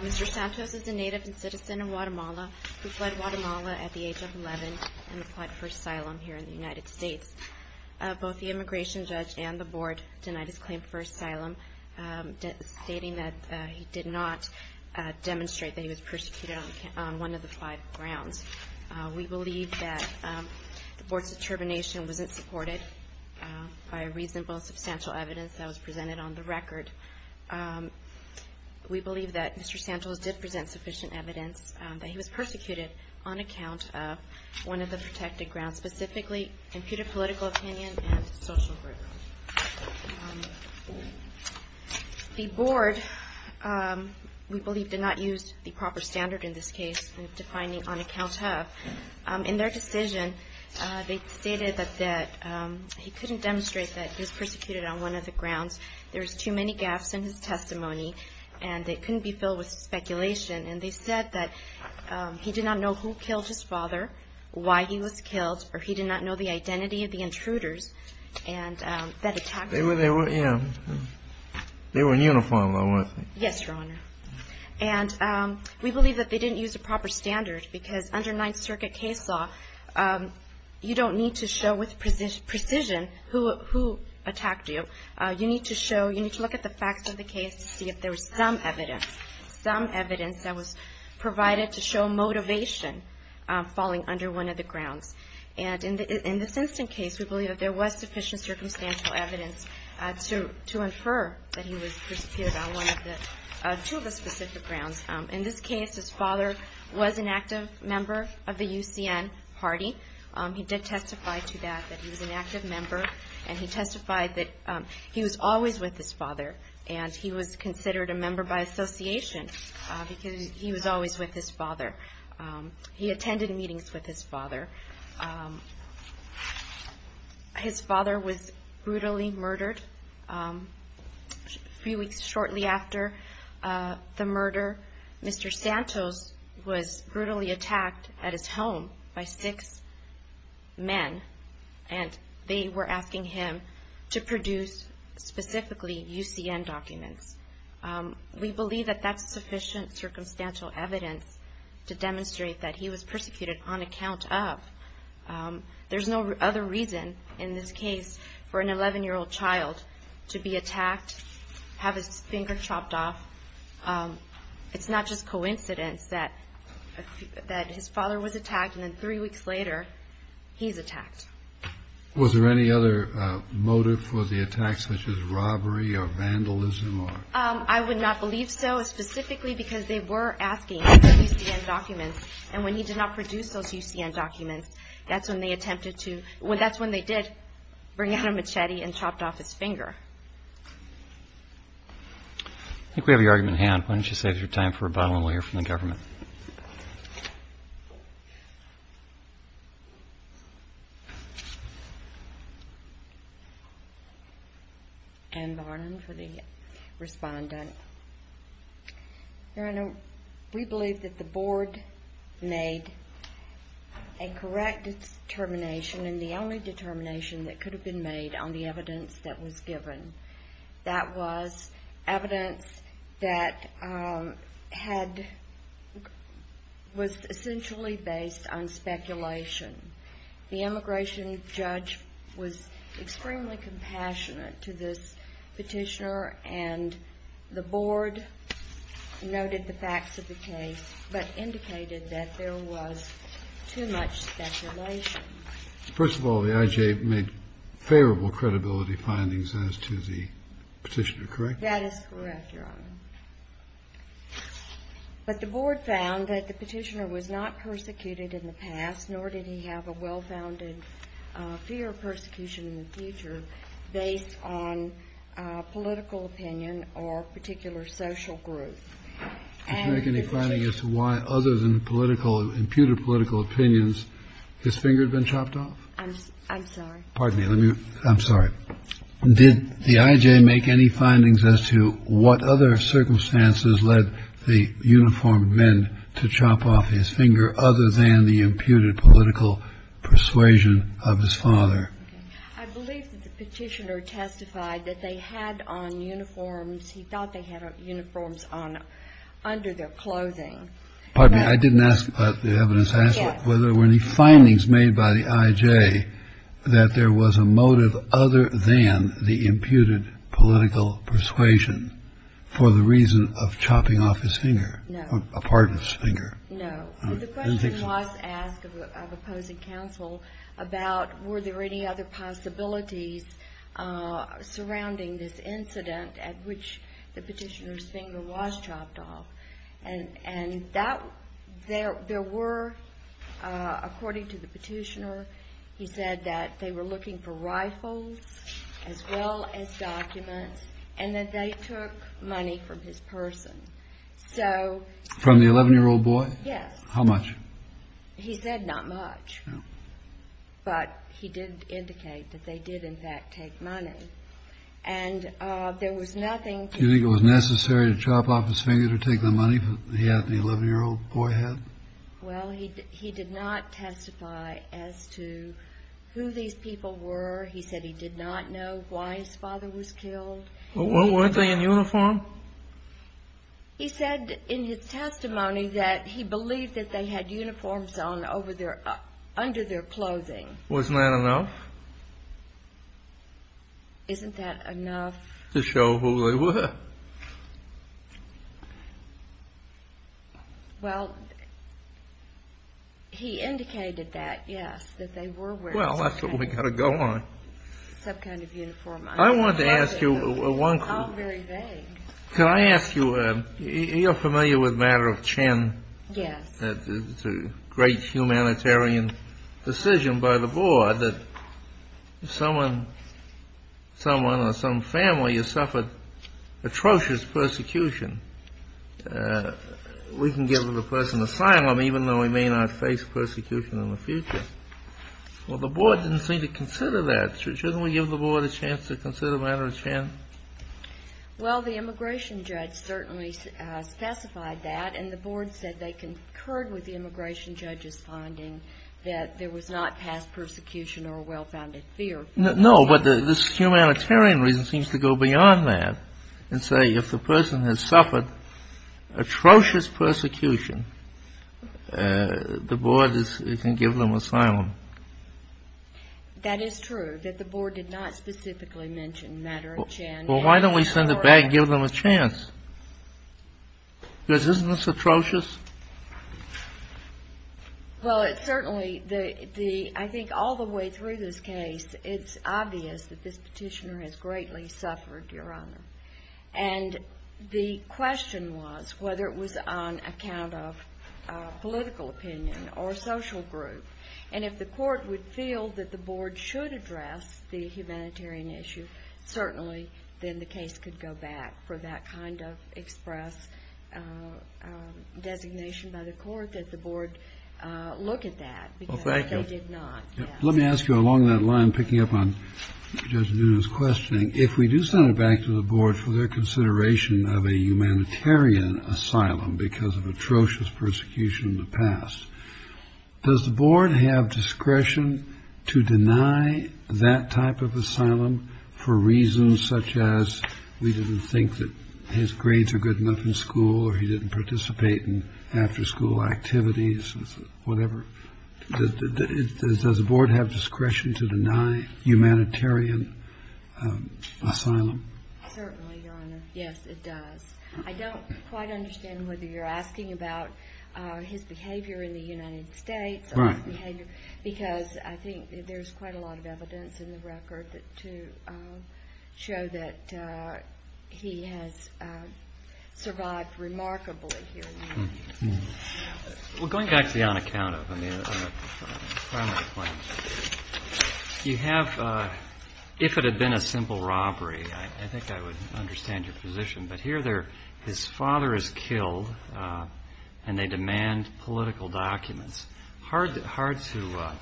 Mr. Santos is a native and citizen of Guatemala, who fled Guatemala at the age of 11 and applied for asylum here in the United States. Both the immigration judge and the board denied his claim for asylum, stating that he did not demonstrate that he was persecuted on one of the five grounds. We believe that the board's determination wasn't supported by reasonable, substantial evidence that was presented on the record. We believe that Mr. Santos did present sufficient evidence that he was persecuted on account of one of the protected grounds, specifically imputed political opinion and social group. The board, we believe, did not use the proper standard in this case in defining on account of. In their decision, they stated that he couldn't demonstrate that he was persecuted on one of the grounds. There was too many gaps in his testimony, and it couldn't be filled with speculation. And they said that he did not know who killed his father, why he was killed, or he did not know the identity of the intruders that attacked him. They were in uniform, I would think. Yes, Your Honor. And we believe that they didn't use a proper standard, because under Ninth Circuit case law, you don't need to show with precision who attacked you. You need to show, you need to look at the facts of the case to see if there was some evidence, some evidence that was provided to show motivation falling under one of the grounds. And in this instance case, we believe that there was sufficient circumstantial evidence to infer that he was persecuted on one of the, two of the specific grounds. In this case, his father was an active member of the UCN party. He did testify to that, that he was an active member, and he testified that he was always with his father, and he was considered a member by association, because he was always with his father. He attended meetings with his father. His father was brutally murdered. A few weeks shortly after the murder, Mr. Santos was brutally attacked at his home by six men, and they were asking him to produce specifically UCN documents. We believe that that's sufficient circumstantial evidence to demonstrate that he was persecuted on account of. There's no other reason in this case for an 11-year-old child to be attacked, have his finger chopped off. It's not just coincidence that his father was attacked, and then three weeks later, he's attacked. Was there any other motive for the attack, such as robbery or vandalism? I would not believe so, specifically because they were asking for UCN documents, and when he did not produce those UCN documents, that's when they attempted to, that's when they did bring out a machete and chopped off his finger. I think we have your argument at hand. Why don't you save your time for a bottle, and I'll let you respond. We believe that the board made a correct determination, and the only determination that could have been made on the evidence that was given. That was evidence that was essentially based on speculation. The immigration judge was extremely compassionate to this petitioner, and the board noted the facts of the case, but indicated that there was too much speculation. First of all, the IJ made favorable credibility findings as to the petitioner, correct? That is correct, Your Honor. But the board found that the petitioner was not persecuted in the past, nor did he have a well-founded fear of persecution in the future, based on political opinion or a particular social group. Did you make any findings as to why, other than political, imputed political opinions, his finger had been chopped off? I'm sorry. Pardon me. Let me, I'm sorry. Did the IJ make any findings as to what other circumstances led the uniformed men to chop off his finger, other than the imputed political persuasion of his father? I believe that the petitioner testified that they had on uniforms, he thought they had on uniforms under their clothing. Pardon me. I didn't ask about the evidence. I asked whether there were any findings made by the IJ that there was a motive other than the imputed political persuasion for the reason of chopping off his finger, a part of his finger. No. The question was asked of opposing counsel about were there any other possibilities surrounding this incident at which the petitioner's finger was chopped off. And that, there were, according to the petitioner, he said that they were looking for rifles, as well as documents, and that they took money from his person. So... Yes. How much? He said not much. But he did indicate that they did, in fact, take money. And there was nothing... Do you think it was necessary to chop off his finger to take the money that he had, the 11-year-old boy had? Well, he did not testify as to who these people were. He said he did not know why his father was killed. Well, weren't they in uniform? He said in his testimony that he believed that they had uniforms on under their clothing. Wasn't that enough? Isn't that enough? To show who they were. Well, he indicated that, yes, that they were wearing... Well, that's what we've got to go on. ...some kind of uniform. I wanted to ask you one question. Oh, very vague. Can I ask you, you're familiar with the matter of Chen? Yes. It's a great humanitarian decision by the board that someone, someone or some family has suffered atrocious persecution. We can give the person asylum, even though he may not face persecution in the future. Well, the board didn't seem to consider that. Shouldn't we give the board a chance to consider the matter of Chen? Well, the immigration judge certainly specified that, and the board said they concurred with the immigration judge's finding that there was not past persecution or a well-founded fear. No, but this humanitarian reason seems to go beyond that and say if the person has suffered atrocious persecution, the board can give them asylum. That is true, that the board did not specifically mention the matter of Chen. Well, why don't we send it back and give them a chance? Because isn't this atrocious? Well, it certainly, I think all the way through this case, it's obvious that this petitioner has greatly suffered, Your Honor. And the question was whether it was on account of the court would feel that the board should address the humanitarian issue. Certainly, then the case could go back for that kind of express designation by the court that the board look at that. Well, thank you. Because they did not. Let me ask you along that line, picking up on Judge Nunez's questioning, if we do send it back to the board for their consideration of a humanitarian asylum because of atrocious persecution in the past, does the board have discretion to deny that type of asylum for reasons such as we didn't think that his grades are good enough in school or he didn't participate in after school activities or whatever? Does the board have discretion to deny humanitarian asylum? Certainly, Your Honor. Yes, it does. I don't quite understand whether you're asking about his behavior in the United States or his behavior because I think there's quite a lot of evidence in the record to show that he has survived remarkably here in the United States. Well, going back to the on account of, I mean, you have, if it had been a simple robbery, I think I would have said, no, I would have said, I don't know who those people are. I don't know who they are. I don't know who they are.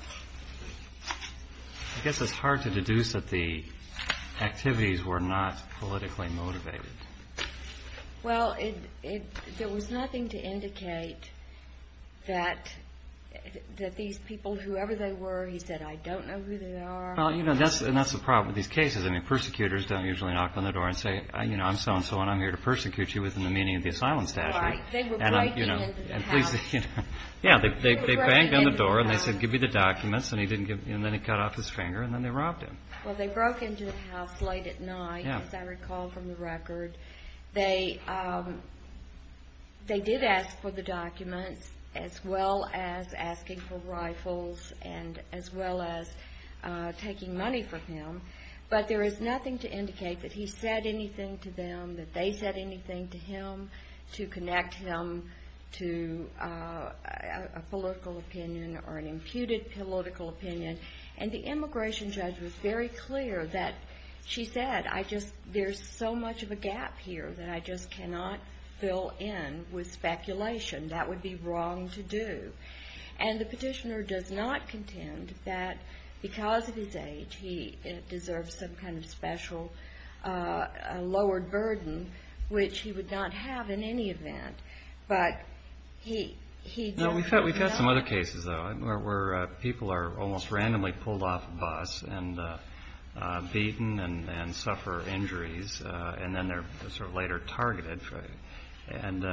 Well, you know, that's the problem with these cases. I mean, persecutors don't usually knock on the door and say, you know, I'm so and so and I'm here to persecute you within the meaning of the asylum statute. They were breaking into the house. Yeah, they banged on the door and they said, give me the documents and then he cut off his finger and then they robbed him. Well, they broke into the house late at night, as I recall from the record. They did ask for the documents as well as asking for rifles and as well as taking money from him, but there is nothing to indicate that he said anything to them, that they said anything to him to connect him to a political opinion or an imputed political opinion. And the immigration judge was very clear that, she said, I just, there's so much of a gap here that I just cannot fill in with speculation. That would be wrong to do. And the petitioner does not contend that because of his age, he deserves some kind of special, a lowered burden, which he would not have in any event, but he, he. We've had some other cases though, where people are almost randomly pulled off a bus and beaten and suffer injuries. And then they're sort of later targeted and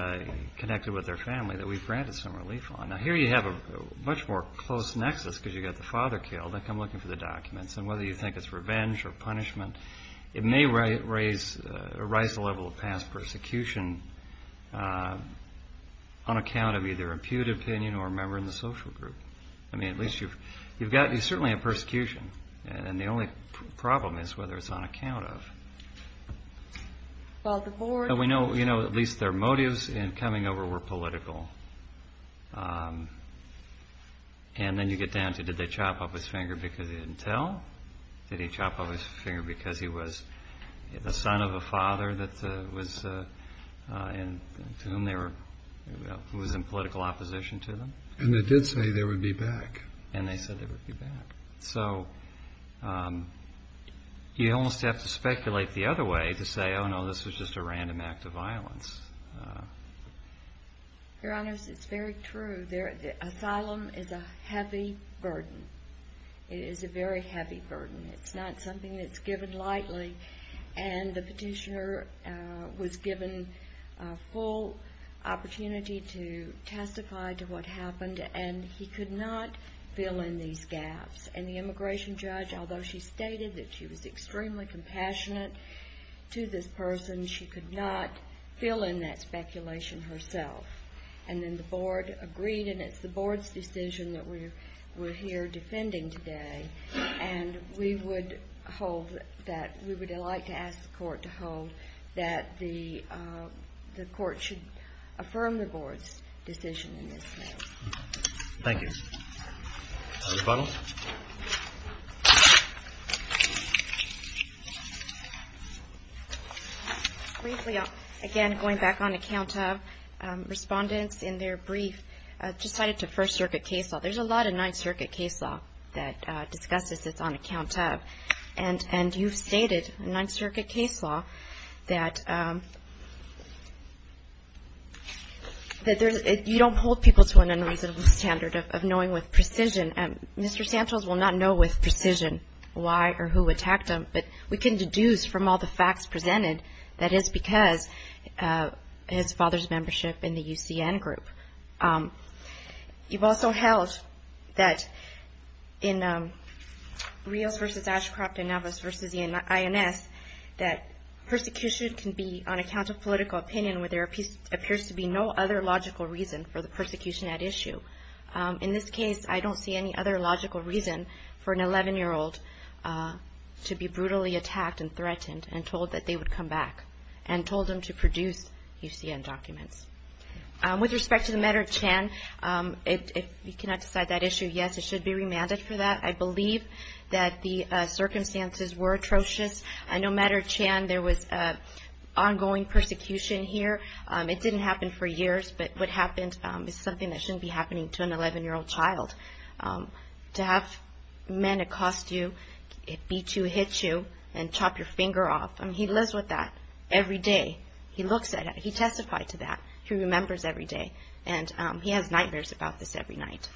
connected with their family that we've granted some relief on. Now here you have a much more close nexus because you've got the father killed. They come looking for the documents and whether you think it's revenge or punishment, it may raise a rise level of past persecution on account of either imputed opinion or a member in the social group. I mean, at least you've, you've got, it's certainly a persecution. And the only problem is whether it's on account of. Well, the board, we know, you know, at least their motives in coming over were political. And then you get down to, did they pick him up by his finger because he was the son of a father that was in, to whom they were, who was in political opposition to them? And they did say they would be back. And they said they would be back. So you almost have to speculate the other way to say, oh no, this was just a random act of violence. Your honors, it's very true. There, the asylum is a heavy burden. It is a very heavy burden. It's not something that's given lightly. And the petitioner was given a full opportunity to testify to what happened. And he could not fill in these gaps. And the immigration judge, although she stated that she was extremely compassionate to this person, she could not fill in that speculation herself. And then the board agreed. And it's the board's decision that we're, we're here defending today. And we're going to hold that, we would like to ask the court to hold that the court should affirm the board's decision in this case. Thank you. Other comments? Briefly, again, going back on account of respondents in their brief, decided to First Circuit case law. There's a lot of Ninth Circuit case law that discusses this on account of, and, and you've stated in Ninth Circuit case law that, that there's, you don't hold people to an unreasonable standard of knowing with precision. And Mr. Santos will not know with precision why or who attacked him, but we can deduce from all the facts presented that it's because his father's membership in the UCN group. You've also held that, that, that, that, that the prosecution can be on account of political opinion, where there appears to be no other logical reason for the persecution at issue. In this case, I don't see any other logical reason for an 11-year-old to be brutally attacked and threatened and told that they would come back and told them to produce UCN documents. With respect to the matter of Chan, if you cannot decide that issue, yes, it should be remanded to the Supreme Court. I believe that the circumstances were atrocious. No matter Chan, there was ongoing persecution here. It didn't happen for years, but what happened is something that shouldn't be happening to an 11-year-old child. To have men accost you, beat you, hit you, and chop your finger off. I mean, he lives with that every day. He looks at it. He testified to that. He remembers every day. And he has nightmares about this every night. Thank you.